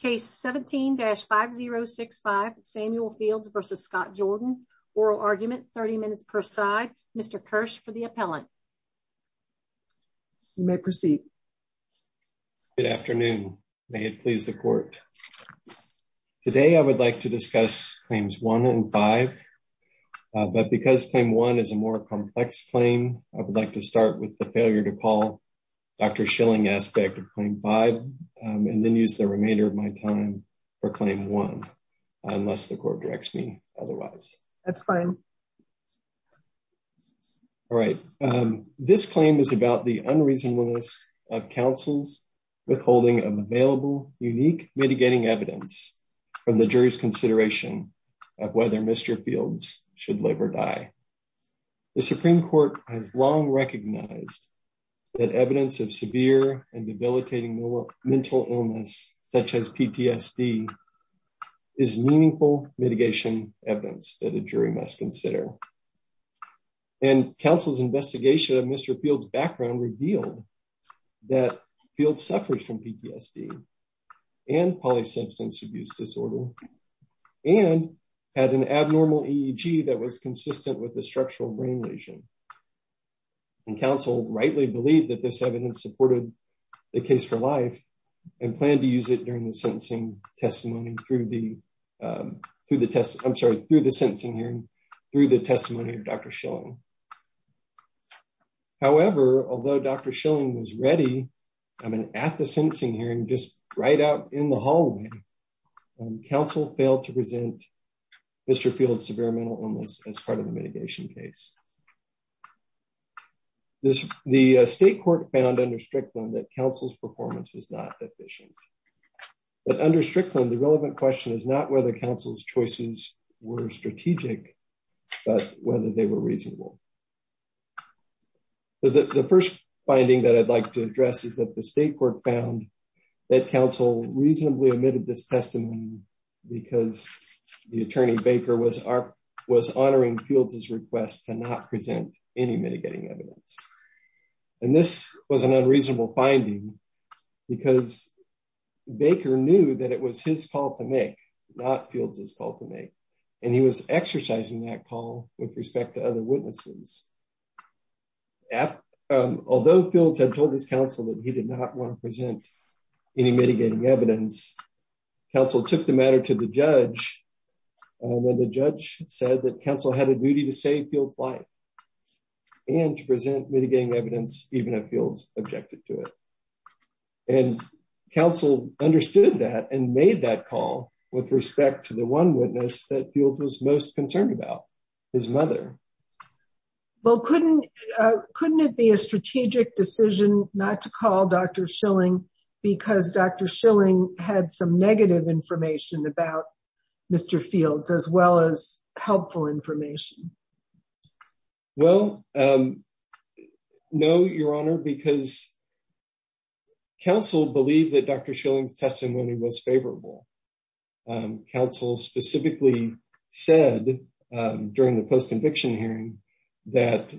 Case 17-5065 Samuel Fields v. Scott Jordan. Oral argument 30 minutes per side. Mr. Kirsch for the appellant. You may proceed. Good afternoon. May it please the court. Today I would like to discuss claims 1 and 5. But because claim 1 is a more complex claim, I would like to start with the failure to call Dr. Schilling aspect of claim 5 and then use the remainder of my time for claim 1 unless the court directs me otherwise. That's fine. All right. This claim is about the unreasonableness of counsel's withholding of available unique mitigating evidence from the jury's consideration of whether Mr. Fields should live or die. The Supreme Court has long recognized that evidence of severe and debilitating mental illness such as PTSD is meaningful mitigation evidence that a jury must consider. And counsel's investigation of Mr. Fields' background revealed that Fields suffers from PTSD and polysubstance abuse disorder and had an abnormal EEG that was consistent with a structural brain lesion. And counsel rightly believed that this evidence supported the case for life and planned to use it during the sentencing testimony through the, I'm sorry, through the sentencing hearing, through the testimony of Dr. Schilling. However, although Dr. Schilling was ready, I mean, at the sentencing hearing, just right out in the hallway, counsel failed to present Mr. Fields' severe mental illness as part of the mitigation case. The state court found under Strickland that counsel's performance was not efficient. But under Strickland, the relevant question is not whether counsel's choices were strategic, but whether they were reasonable. The first finding that I'd like to address is that the state court found that counsel reasonably omitted this testimony because the attorney Baker was honoring Fields' request to not present any mitigating evidence. And this was an unreasonable finding because Baker knew that it was his call to make, not Fields' call to make. And he was exercising that call with respect to other witnesses. Although Fields had told his counsel that he did not want to present any mitigating evidence, counsel took the matter to the judge when the judge said that counsel had a duty to save Fields' life and to present mitigating evidence even if Fields objected to it. And counsel understood that and made that call with respect to the one witness that Fields was most concerned about, his mother. Well, couldn't, couldn't it be a strategic decision not to call Dr. Schilling because Dr. Schilling had some negative information about Mr. Fields as well as helpful information? Well, no, Your Honor, because counsel believed that Dr. Schilling's testimony was favorable. Counsel specifically said during the post-conviction hearing that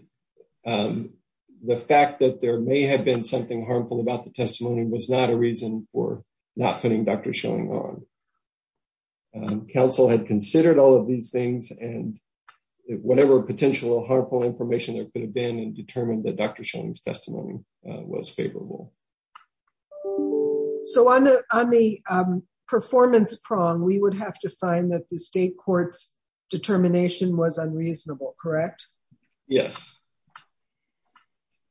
the fact that there may have been something harmful about the testimony was not a reason for not putting Dr. Schilling on. Counsel had considered all of these things and whatever potential harmful information there could have been and determined that Dr. Schilling's testimony was favorable. So on the, on the performance prong, we would have to find that the state court's determination was unreasonable, correct? Yes,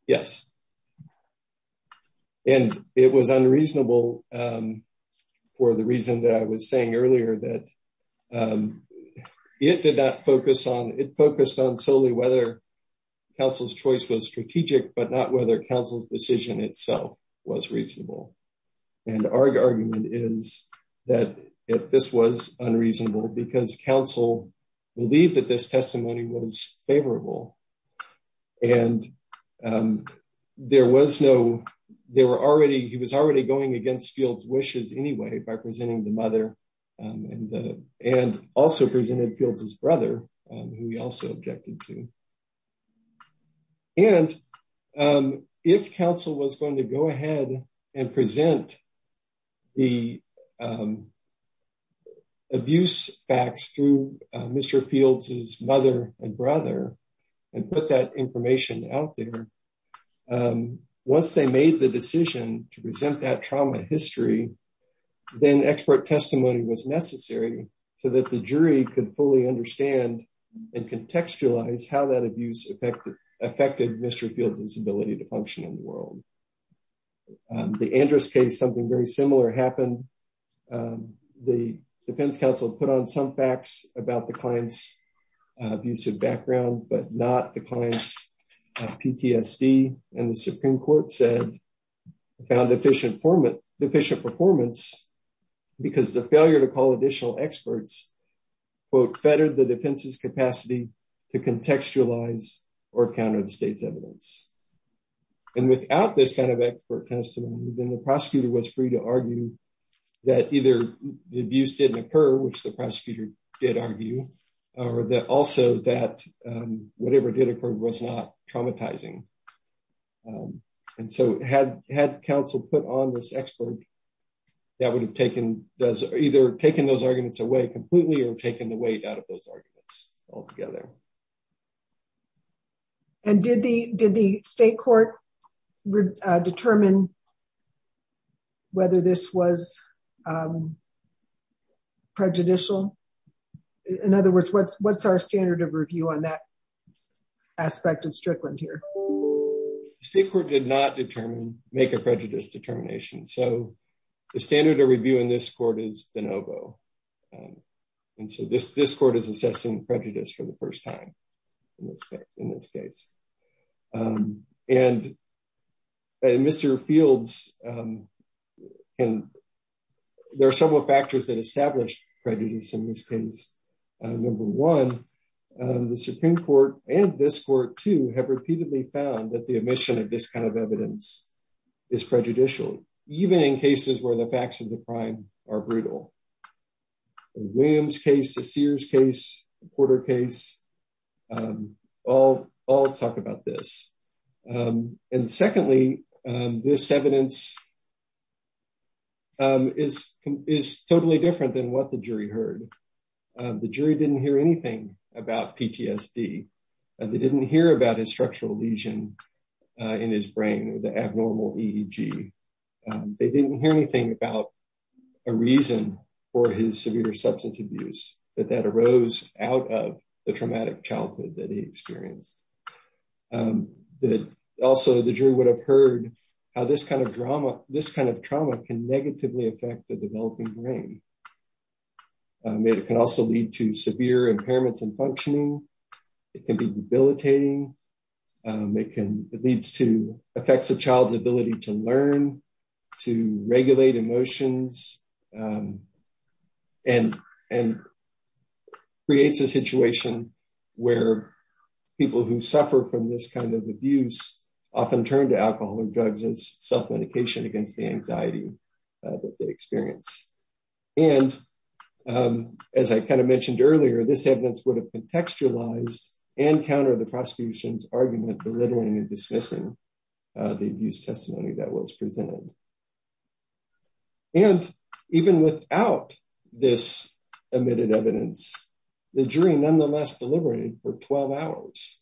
yes, and it was unreasonable for the reason that I was saying earlier that it did not focus on, it focused on solely whether counsel's choice was strategic but not whether counsel's decision itself was reasonable. And our argument is that this was unreasonable because counsel believed that this testimony was favorable and there was no, there were already, he was already going against Fields' wishes anyway by presenting the mother and, and also presented Fields' brother who he also objected to. And if counsel was going to go ahead and present the abuse facts through Mr. Fields' mother and brother and put that information out there, once they made the decision to present that trauma history, then expert testimony was necessary so that the jury could fully understand and contextualize how that abuse affected, affected Mr. Fields' ability to function in the world. The Andrus case, something very similar happened. The defense counsel put on some facts about the client's abusive background but not the client's PTSD and the Supreme Court said, found deficient performance, deficient performance because the failure to call additional experts, quote, fettered the defense's capacity to contextualize or counter the state's evidence. And without this kind of expert testimony, then the prosecutor was free to argue that either the abuse didn't occur, which the prosecutor did argue, or that also that whatever did occur was not traumatizing. And so had, had counsel put on this expert, that would have taken does either taken those arguments away completely or taken the weight out of those arguments altogether. And did the, did the state court determine whether this was prejudicial? In other words, what's, what's our standard of review on that here? The state court did not determine, make a prejudice determination. So the standard of review in this court is de novo. And so this, this court is assessing prejudice for the first time in this case. And Mr. Fields, and there are several factors that establish prejudice in this case. Number one, the Supreme Court and this court too, have repeatedly found that the omission of this kind of evidence is prejudicial, even in cases where the facts of the crime are brutal. In William's case, the Sears case, Porter case, all, all talk about this. And secondly, this evidence is, is totally different than what the jury heard. The jury didn't hear anything about PTSD. They didn't hear about his structural lesion in his brain, the abnormal EEG. They didn't hear anything about a reason for his severe substance abuse, that that arose out of the traumatic childhood that he experienced. Also, the jury would have heard how this kind of drama, this kind of trauma can negatively affect the developing brain. It can also lead to severe impairments in functioning. It can be debilitating. It can, it leads to where people who suffer from this kind of abuse often turn to alcohol or drugs as self-medication against the anxiety that they experience. And as I kind of mentioned earlier, this evidence would have contextualized and countered the prosecution's argument, belittling and dismissing the abuse testimony that was presented. And even without this omitted evidence, the jury nonetheless deliberated for 12 hours.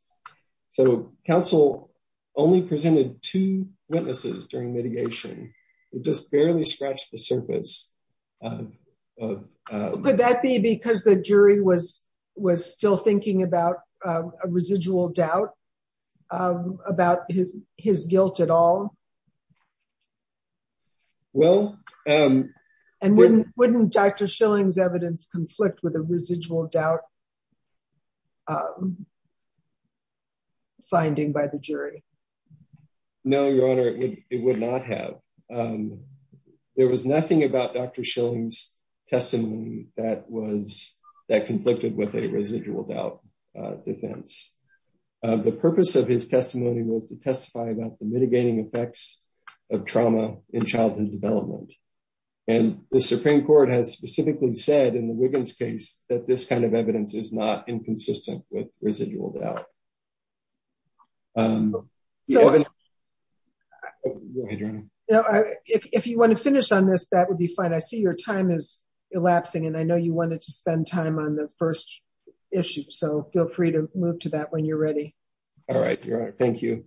So counsel only presented two witnesses during mitigation. It just barely scratched the surface. Could that be because the jury was, was still thinking about a residual doubt about his guilt at all? Well, wouldn't Dr. Schilling's evidence conflict with a residual doubt finding by the jury? No, your honor, it would not have. There was nothing about Dr. Schilling's testimony that was, that conflicted with a residual doubt defense. The purpose of his in childhood development. And the Supreme Court has specifically said in the Wiggins case that this kind of evidence is not inconsistent with residual doubt. If you want to finish on this, that would be fine. I see your time is elapsing and I know you wanted to spend time on the first issue. So feel free to move to that when you're ready. All right, your honor. Thank you.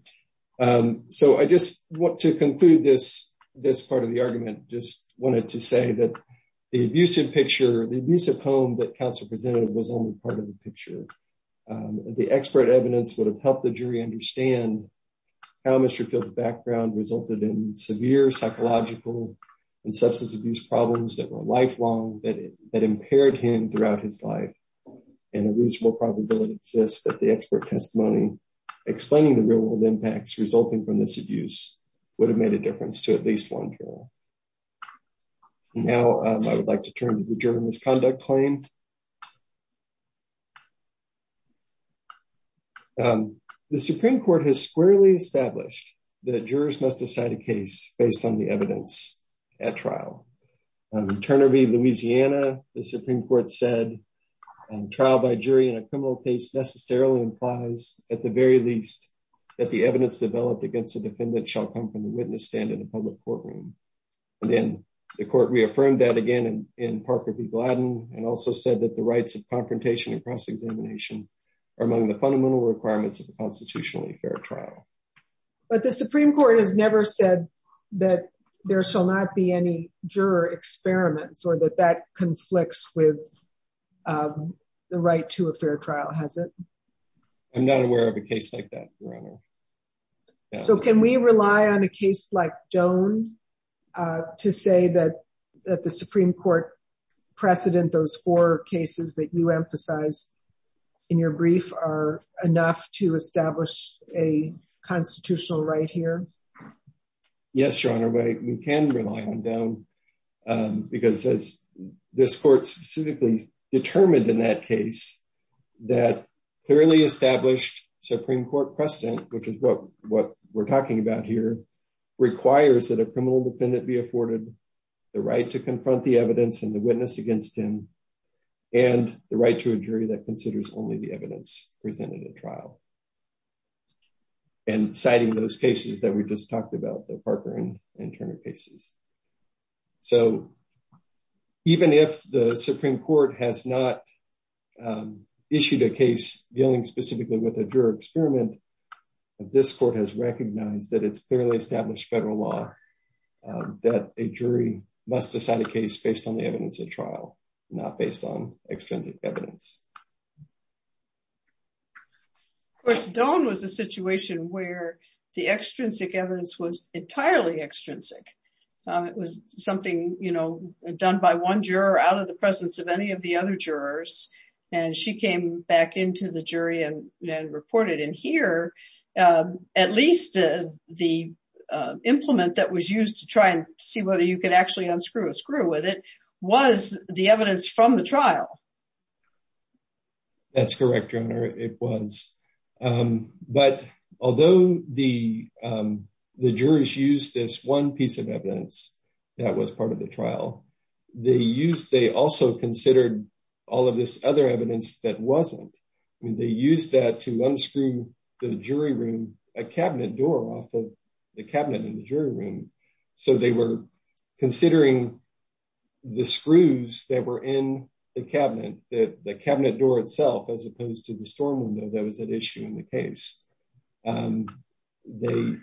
So I just want to conclude this, this part of the argument, just wanted to say that the abusive picture, the abusive home that counsel presented was only part of the picture. The expert evidence would have helped the jury understand how Mr. Field's background resulted in severe psychological and substance abuse problems that were lifelong that impaired him throughout his life. And a reasonable probability exists that the expert testimony explaining the real world impacts resulting from this abuse would have made a difference to at least one juror. Now I would like to turn to the juror misconduct claim. The Supreme Court has squarely established that jurors must decide a case based on the evidence at trial. Turner v. Louisiana, the Supreme Court said trial by jury in a criminal case necessarily implies at the very least that the evidence developed against the defendant shall come from the witness stand in a public courtroom. And then the court reaffirmed that again in Parker v. Gladden and also said that the rights of confrontation and cross-examination are among the fundamental requirements of a constitutionally fair trial. But the Supreme Court has never said that there shall not be any juror experiments or that that conflicts with the right to a fair trial, has it? I'm not aware of a case like that, Your Honor. So can we rely on a case like Doane to say that the Supreme Court precedent those four cases that you emphasize in your brief are enough to establish a constitutional right here? Yes, Your Honor, we can rely on Doane because as this court specifically determined in that case that clearly established Supreme Court precedent, which is what we're talking about here, requires that a criminal defendant be afforded the right to confront the evidence and the witness against him and the right to a jury that considers only the evidence presented at trial. And citing those cases that we just talked about, the Parker and Turner cases. So even if the Supreme Court has not issued a case dealing specifically with a juror experiment, this court has recognized that it's clearly established federal law that a jury must decide a case based on the evidence at trial, not based on extensive evidence. Of course, Doane was a situation where the extrinsic evidence was entirely extrinsic. It was something, you know, done by one juror out of the presence of any of the other jurors, and she came back into the jury and reported. And here, at least the implement that was used to try and see whether you could actually unscrew a screw with it was the evidence from the trial. That's correct, Your Honor, it was. But although the jurors used this one piece of evidence that was part of the trial, they also considered all of this other evidence that wasn't. I mean, they used that to unscrew the jury room, a cabinet door off of the cabinet in the jury room. So they were considering the screws that were in the cabinet, the cabinet door itself, as opposed to the storm window that was at issue in the case. The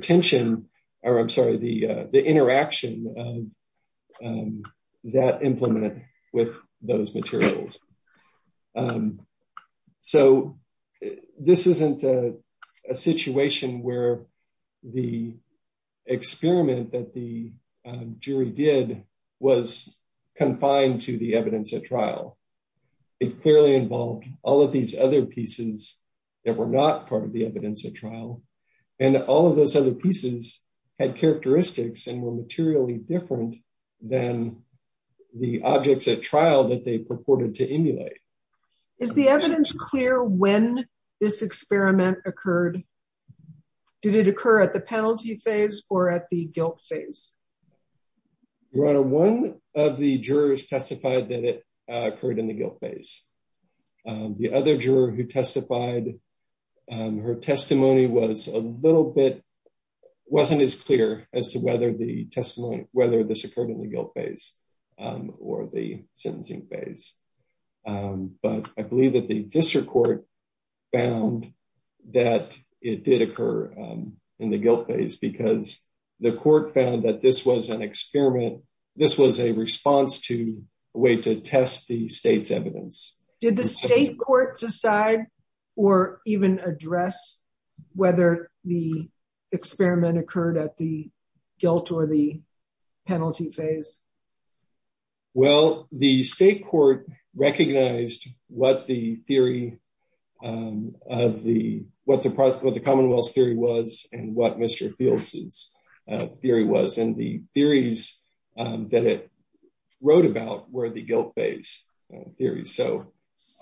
tension, or I'm sorry, the interaction of that implement with those materials. So this isn't a situation where the experiment that the jury did was confined to the evidence at trial. It clearly involved all of these other pieces that were not part of the evidence at trial, and all of those other pieces had characteristics and were materially different than the objects at trial that they purported to emulate. Is the evidence clear when this experiment occurred? Did it occur at the penalty phase or at the guilt phase? Your Honor, one of the jurors testified that it occurred in the guilt phase. The other juror who testified, her testimony was a little bit, wasn't as clear as to whether the testimony, whether this occurred in the guilt phase or the sentencing phase. But I believe that the district court found that it did occur in the guilt phase because the court found that this was an experiment. This was a response to a way to test the state's evidence. Did the state court decide or even address whether the experiment occurred at the penalty phase?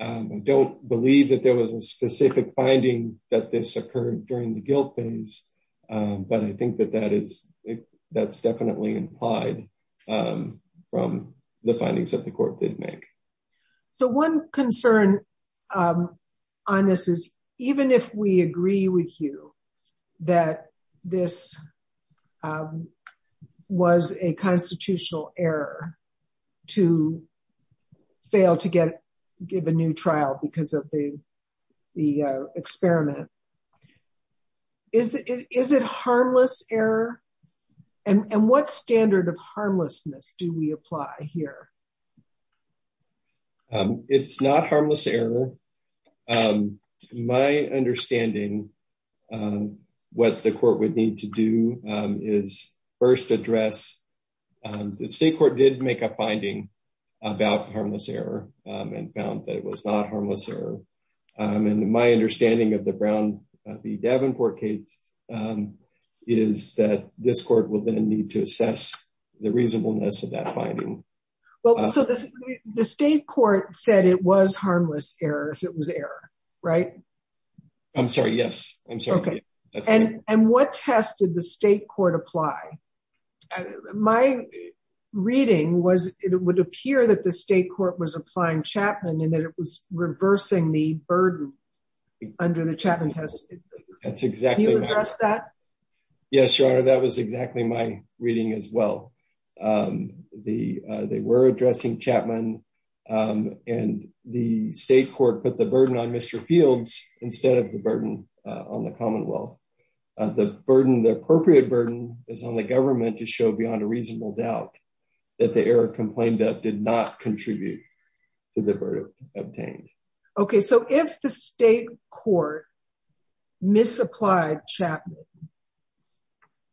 I don't believe that there was a specific finding that this occurred during the guilt phase, but I think that that's definitely implied from the findings that the court did make. So one concern on this is, even if we agree with you that this was a constitutional error to fail to give a new trial because of the experiment, is it harmless error? And what standard of harmlessness do we apply here? It's not harmless error. My understanding, what the court would need to do is first address, the state court did make a finding about harmless error and found that it was not harmless error. And my understanding of the Brown v. Davenport case is that this court will then need to assess the reasonableness of that finding. So the state court said it was harmless error if it was error, right? I'm sorry, yes. I'm sorry. And what test did the state court apply? My reading was it would appear that the state court was applying Chapman and that it was reversing the burden under the Chapman test. Can you address that? Yes, Your Honor, that was exactly my reading as well. They were addressing Chapman and the state court put the burden on Mr. Fields instead of the burden on the Commonwealth. The appropriate burden is on the government to show beyond a reasonable doubt that the error complained of not contribute to the burden obtained. Okay. So if the state court misapplied Chapman,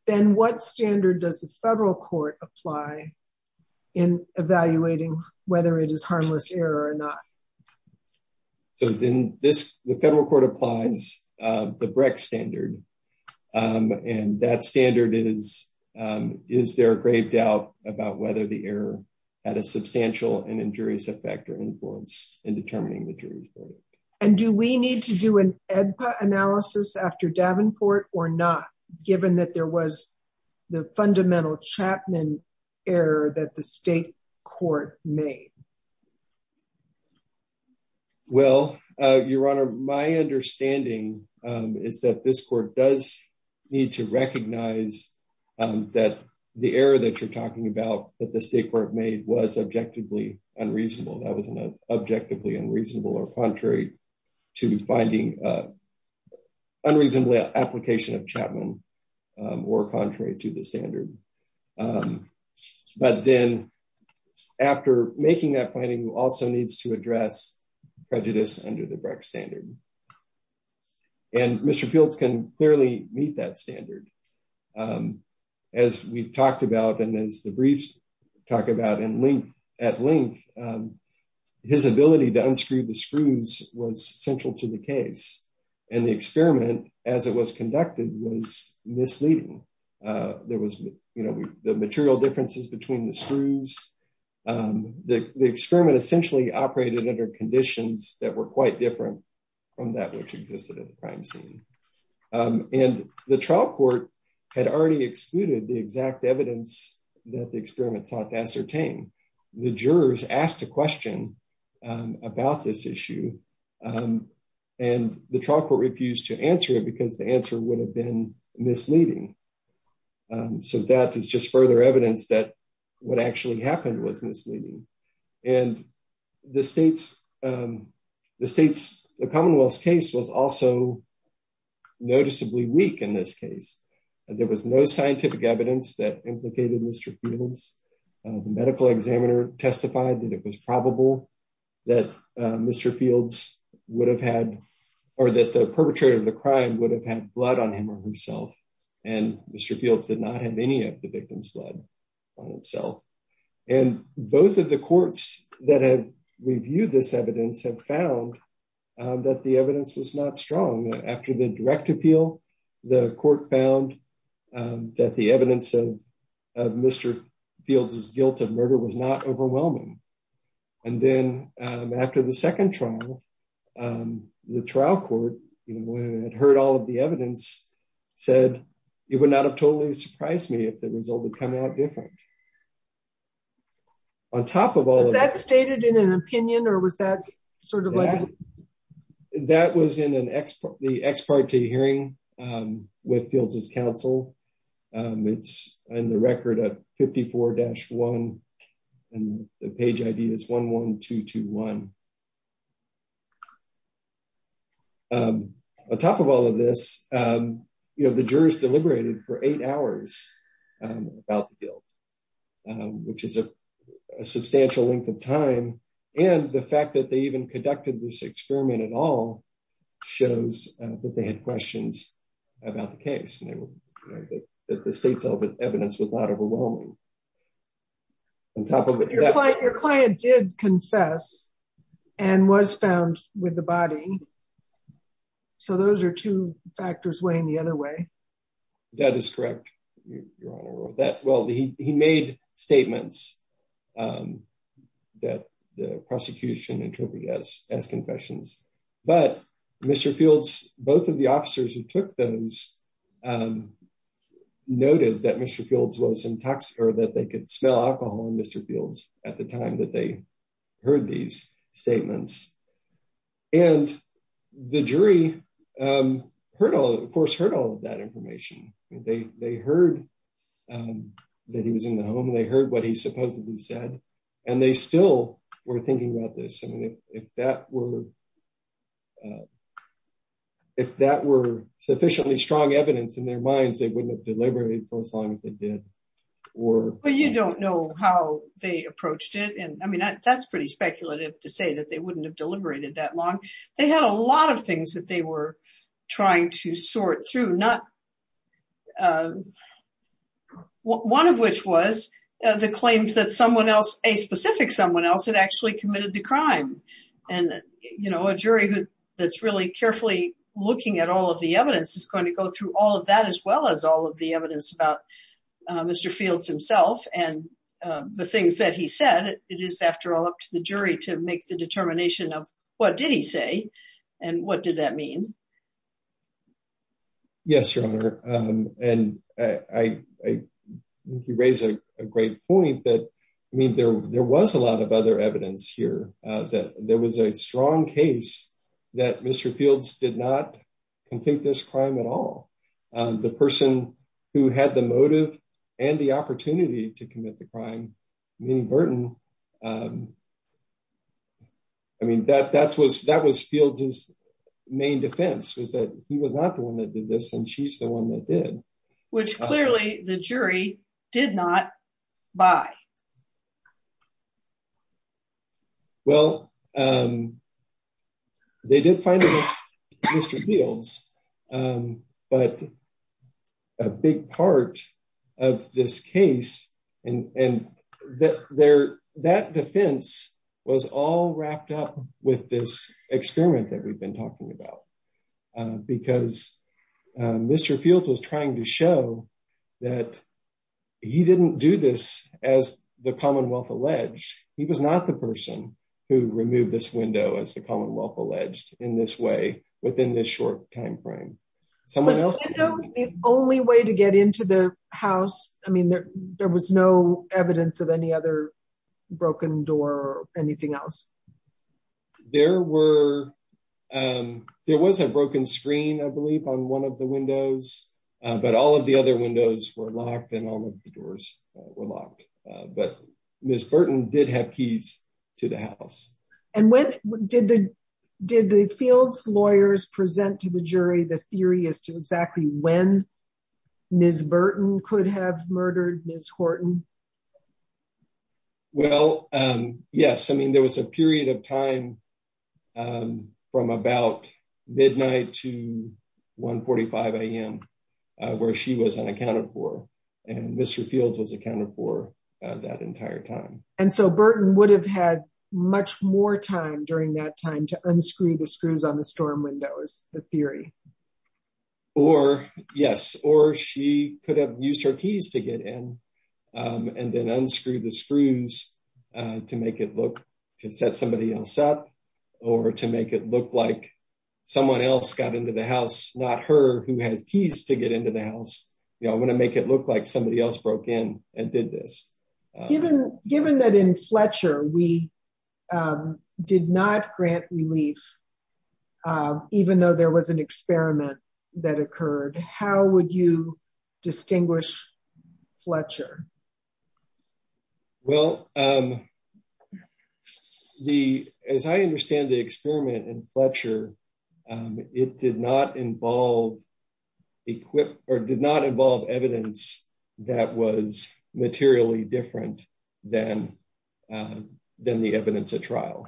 then what standard does the federal court apply in evaluating whether it is harmless error or not? So then this, the federal court applies the Brecht standard. And that standard is, is there a grave doubt about whether the error had a substantial and injurious effect or influence in determining the jury's verdict? And do we need to do an AEDPA analysis after Davenport or not, given that there was the fundamental Chapman error that the state court made? Well, Your Honor, my understanding is that this court does need to recognize that the error that you're talking about that the state court made was objectively unreasonable. That wasn't an objectively unreasonable or contrary to finding an unreasonably application of Chapman or contrary to the standard. But then after making that finding also needs to address prejudice under the Brecht standard. And Mr. Fields can clearly meet that standard. As we've talked about, and as the briefs talk about at length, his ability to unscrew the screws was central to the case. And the experiment as it was conducted was misleading. There was, you know, the material differences between the screws. The experiment essentially operated under conditions that were quite different from that which existed at the crime scene. And the trial court had already excluded the exact evidence that the experiment sought to ascertain. The jurors asked a question about this issue, and the trial court refused to answer it because the answer would have been misleading. So that is just further evidence that what actually happened was misleading. And the Commonwealth's case was also noticeably weak in this case. There was no scientific evidence that implicated Mr. Fields. The medical examiner testified that it was probable that Mr. Fields would have had, or that the perpetrator of the crime would have had blood on him or herself. And Mr. Fields did not have any of the victim's blood on itself. And both of the courts that have reviewed this evidence have found that the evidence was not strong. After the direct appeal, the court found that the evidence of Mr. Fields' guilt of murder was not overwhelming. And then after the second trial, the trial court, you know, when it heard all of the evidence, said, it would not have totally surprised me if the result had come out different. On top of all of that... Was that stated in an opinion, or was that sort of like... That was in the ex parte hearing with Fields' counsel. It's in the record at 54-1, and the page ID is 11221. On top of all of this, you know, the jurors deliberated for eight hours about the guilt, which is a substantial length of time. And the fact that they even conducted this experiment at all shows that they had questions about the case, that the state's evidence was not overwhelming. On top of it... Your client did confess and was found with the body. So those are two factors weighing the other way. That is correct, Your Honor. Well, he made statements that the prosecution interpreted as confessions. But Mr. Fields, both of the officers who took those, noted that Mr. Fields was intox... Or that they could smell alcohol in Mr. Fields at the time that they heard these statements. And the jury heard all... Of course, heard all of that information. They heard that he was in the home. They heard what he supposedly said. And they still were thinking about this. I mean, if that were sufficiently strong evidence in their minds, they wouldn't have deliberated for as long as they did. Or... Well, you don't know how they approached it. And I mean, that's pretty speculative to say that they wouldn't have sort through. Not... One of which was the claims that someone else, a specific someone else, had actually committed the crime. And a jury that's really carefully looking at all of the evidence is going to go through all of that as well as all of the evidence about Mr. Fields himself and the things that he said. It is, after all, up to the jury to make the determination of what did he say and what did that mean. Yes, Your Honor. And I think you raise a great point that, I mean, there was a lot of other evidence here that there was a strong case that Mr. Fields did not convict this crime at all. The person who had the motive and the opportunity to commit the crime, Minnie Burton, I mean, that was Fields' main defense was that he was not the one that did this and she's the one that did. Which clearly the jury did not buy. Well, they did find against Mr. Fields, but a big part of this case and that defense was all wrapped up with this experiment that we've been talking about. Because Mr. Fields was trying to show that he didn't do this as the Commonwealth alleged. He was not the person who removed this window, as the Commonwealth alleged, in this way, within this short time frame. The only way to get into the house, I mean, there was no evidence of any other broken door or anything else. There was a broken screen, I believe, on one of the windows but all of the other windows were locked and all of the doors were locked. But Ms. Burton did have keys to the house. Did the Fields lawyers present to the jury the theory as to exactly when Ms. Burton could have murdered Ms. Horton? Well, yes, I mean, there was a period of time from about midnight to 1 45 a.m. where she was unaccounted for and Mr. Fields was accounted for that entire time. And so Burton would have had much more time during that time to unscrew the screws on the storm windows, the theory? Or, yes, or she could have used her keys to get in and then unscrew the screws to make it look to set somebody else up or to make it look like someone else got into the house, not her, who has keys to get into the house. You know, I'm going to make it look like somebody else broke in and did this. Given that in Fletcher we did not grant relief, even though there was an experiment that occurred, how would you explain that to us? Well, as I understand the experiment in Fletcher, it did not involve evidence that was materially different than the evidence at trial.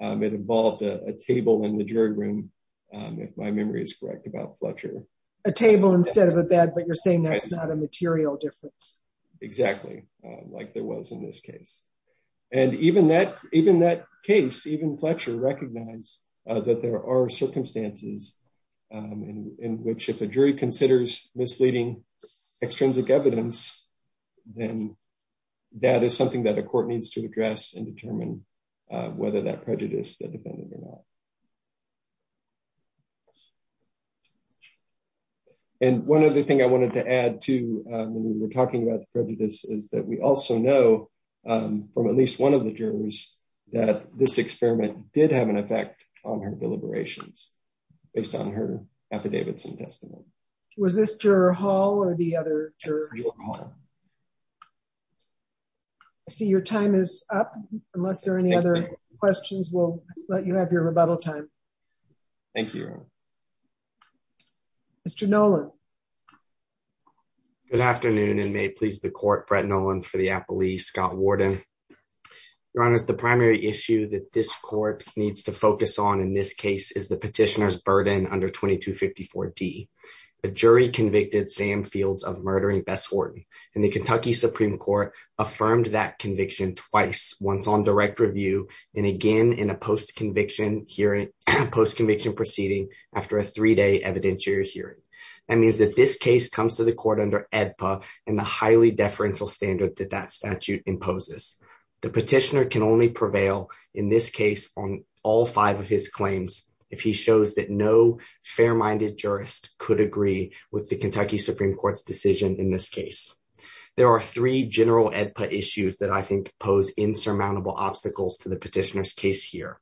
It involved a table in the jury room, if my memory is correct, about Fletcher. A table instead of a bed, but you're saying that's a material difference. Exactly, like there was in this case. And even that case, even Fletcher recognized that there are circumstances in which if a jury considers misleading extrinsic evidence, then that is something that a court needs to address and determine whether that prejudice defended or not. And one other thing I wanted to add to when we were talking about the prejudice is that we also know from at least one of the jurors that this experiment did have an effect on her deliberations based on her affidavits and testimony. Was this juror Hall or the other juror? I see your time is up. Unless there are any other questions, we'll let you have your rebuttal time. Thank you. Mr. Nolan. Good afternoon and may it please the court, Brett Nolan for the Appalachian Police, Scott Warden. Your Honor, the primary issue that this court needs to focus on in this case is the petitioner's and the Kentucky Supreme Court affirmed that conviction twice, once on direct review and again in a post-conviction hearing, post-conviction proceeding after a three-day evidentiary hearing. That means that this case comes to the court under AEDPA and the highly deferential standard that that statute imposes. The petitioner can only prevail in this case on all five of his claims if he shows that no fair-minded jurist could agree with the Kentucky Supreme Court's decision in this case. There are three general AEDPA issues that I think pose insurmountable obstacles to the petitioner's case here.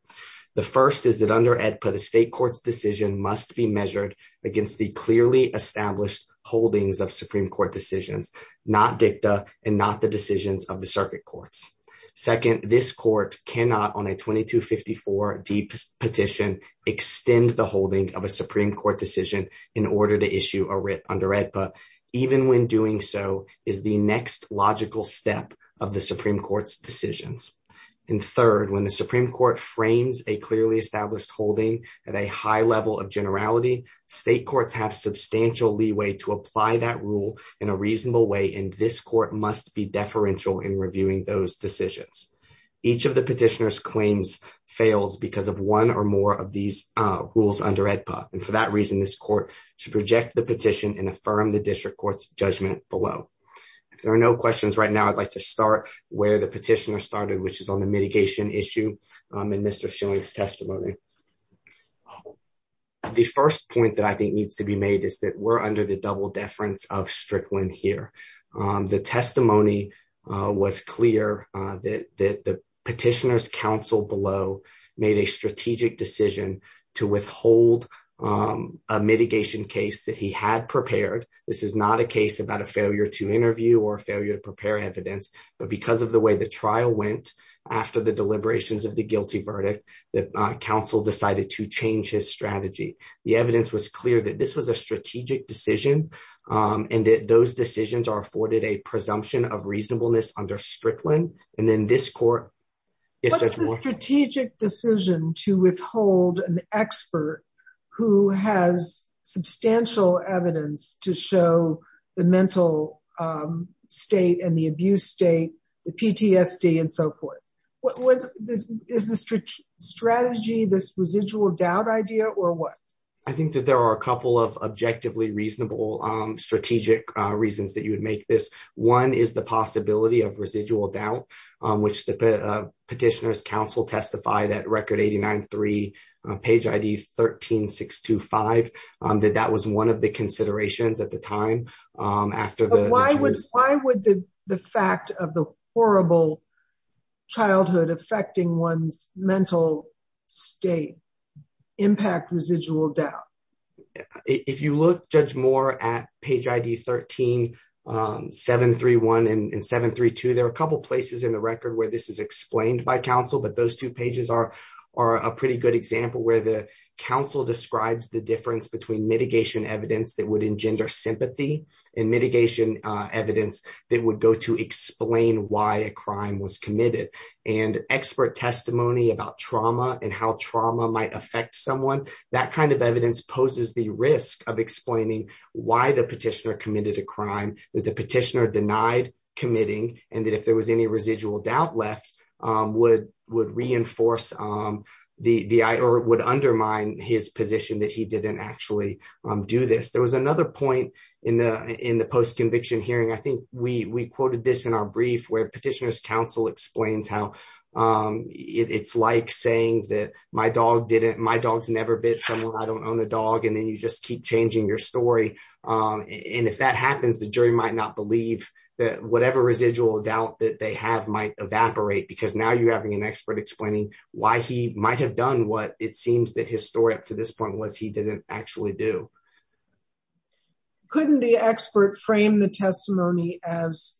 The first is that under AEDPA, the state court's decision must be measured against the clearly established holdings of Supreme Court decisions, not dicta and not the decisions of the circuit courts. Second, this court cannot, on a 2254D petition, extend the so is the next logical step of the Supreme Court's decisions. And third, when the Supreme Court frames a clearly established holding at a high level of generality, state courts have substantial leeway to apply that rule in a reasonable way and this court must be deferential in reviewing those decisions. Each of the petitioner's claims fails because of one or more of these rules under AEDPA and for that reason this court should reject the petition and affirm the district court's judgment below. If there are no questions right now, I'd like to start where the petitioner started which is on the mitigation issue in Mr. Schilling's testimony. The first point that I think needs to be made is that we're under the double deference of Strickland here. The testimony was clear that the petitioner's counsel below made a strategic decision to withhold a mitigation case that he had prepared. This is not a case about a failure to interview or failure to prepare evidence, but because of the way the trial went after the deliberations of the guilty verdict, the counsel decided to change his strategy. The evidence was clear that this was a strategic decision and that those decisions are afforded a presumption of reasonableness under Strickland. What's the strategic decision to withhold an expert who has substantial evidence to show the mental state and the abuse state, the PTSD and so forth? Is the strategy this residual doubt idea or what? I think that there are a couple of objectively reasonable strategic reasons that you would make this. One is the possibility of residual doubt which the petitioner's counsel testified at record 89-3, page ID 13-625, that that was one of the considerations at the time. Why would the fact of the horrible childhood affecting one's mental state impact residual doubt? If you look, Judge Moore, at page ID 13-731 and 732, there are a couple places in the record where this is explained by counsel, but those two pages are a pretty good example where the counsel describes the difference between mitigation evidence that would explain why a crime was committed and expert testimony about trauma and how trauma might affect someone. That kind of evidence poses the risk of explaining why the petitioner committed a crime, that the petitioner denied committing, and that if there was any residual doubt left, would undermine his position that he didn't actually do this. There was another point in the post-conviction hearing. I think we quoted this in our brief where petitioner's counsel explains how it's like saying that my dog's never bit someone, I don't own a dog, and then you just keep changing your story. If that happens, the jury might not believe that whatever residual doubt that they have might evaporate because now you're having an expert explaining why he might have done what it seems that his story up to this point. Couldn't the expert frame the testimony as,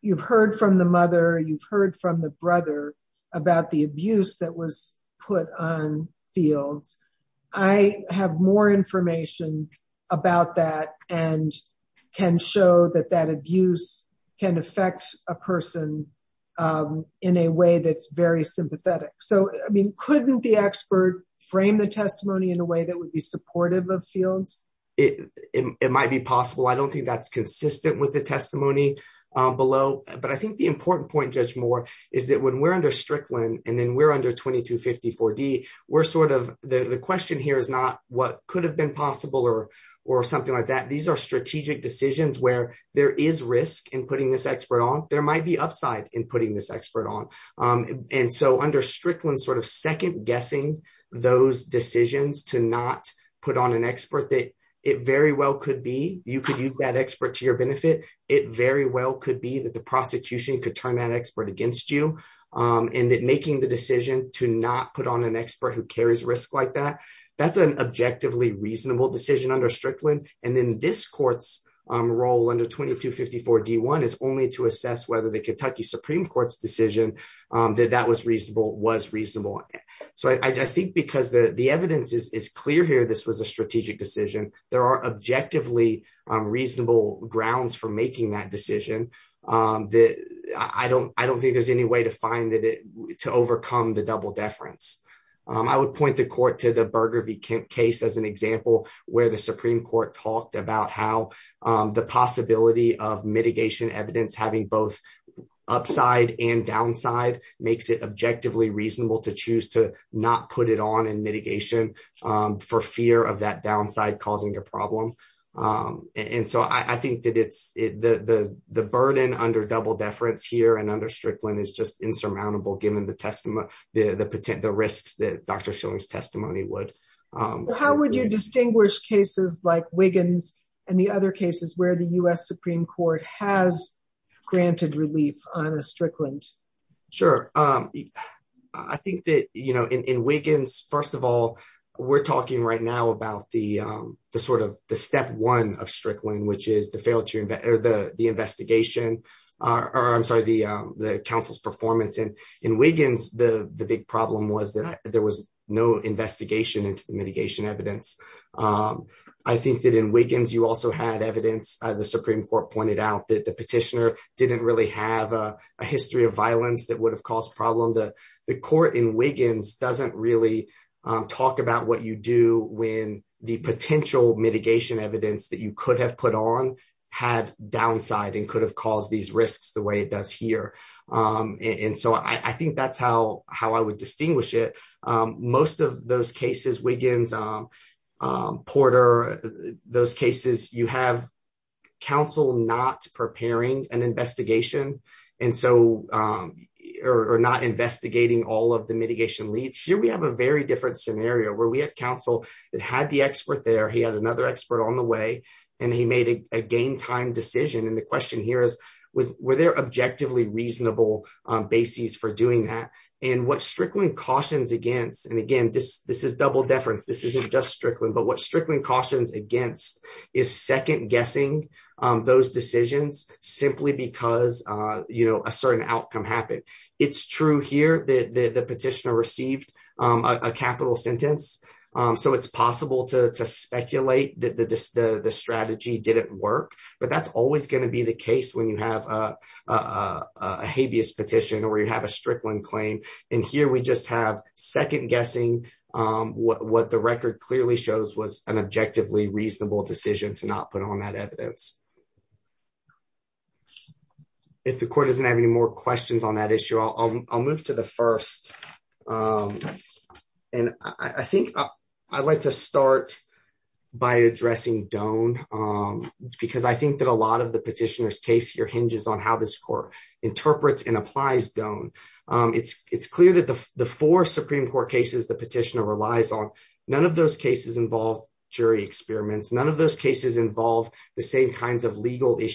you've heard from the mother, you've heard from the brother about the abuse that was put on fields. I have more information about that and can show that that abuse can affect a person in a way that's very sympathetic. Couldn't the expert frame the testimony in a way that would be supportive of fields? It might be possible. I don't think that's consistent with the testimony below, but I think the important point, Judge Moore, is that when we're under Strickland and then we're under 2254D, the question here is not what could have been possible or something like that. These are strategic decisions where there is risk in putting this expert on. There might be upside in putting this expert on. Under Strickland, second guessing those decisions to not put on an expert that it very well could be. You could use that expert to your benefit. It very well could be that the prosecution could turn that expert against you, and that making the decision to not put on an expert who carries risk like that, that's an objectively reasonable decision under Strickland. Then this court's role under 2254D1 is only to assess whether the Kentucky Supreme Court's decision that that was reasonable was reasonable. I think because the evidence is clear here, this was a strategic decision. There are objectively reasonable grounds for making that decision. I don't think there's any way to find it to overcome the double deference. I would point the court to the Supreme Court talked about how the possibility of mitigation evidence having both upside and downside makes it objectively reasonable to choose to not put it on in mitigation for fear of that downside causing a problem. I think that the burden under double deference here and under Strickland is just insurmountable given the risks that Dr. Schilling's testimony would. How would you distinguish cases like Wiggins and the other cases where the U.S. Supreme Court has granted relief on a Strickland? Sure. I think that in Wiggins, first of all, we're talking right now about the step one of Strickland, which is the investigation, or I'm sorry, the counsel's performance. In Wiggins, the big problem was that there was no investigation into the mitigation evidence. I think that in Wiggins, you also had evidence. The Supreme Court pointed out that the petitioner didn't really have a history of violence that would have caused problem. The court in Wiggins doesn't really talk about what you do when the potential mitigation evidence that you could have put on had downside and could have caused these risks the way it does here. I think that's how I would distinguish it. Most of those cases, Wiggins, Porter, those cases, you have counsel not preparing an investigation or not investigating all of the mitigation leads. Here, we have a very different scenario where we have counsel that had the expert there, he had another expert on the way, and he made a game time decision. The question here is, were there objectively reasonable basis for doing that? What Strickland cautions against, and again, this is double deference, this isn't just Strickland, but what Strickland cautions against is second guessing those decisions simply because a certain outcome happened. It's true here that the petitioner received a capital sentence, so it's possible to speculate that the strategy didn't work, but that's always going to be the case when you have a habeas petition or you have a Strickland claim. Here, we just have second guessing what the record clearly shows was an objectively reasonable decision to not put on that evidence. If the court doesn't have any more questions on that issue, I'll move to the first. I think I'd like to start by addressing Doane because I think that a lot of the petitioner's case here hinges on how this court interprets and applies Doane. It's clear that the four Supreme Court cases the petitioner relies on, none of those cases involve jury experiments, none of those cases involve the same kinds of legal issues.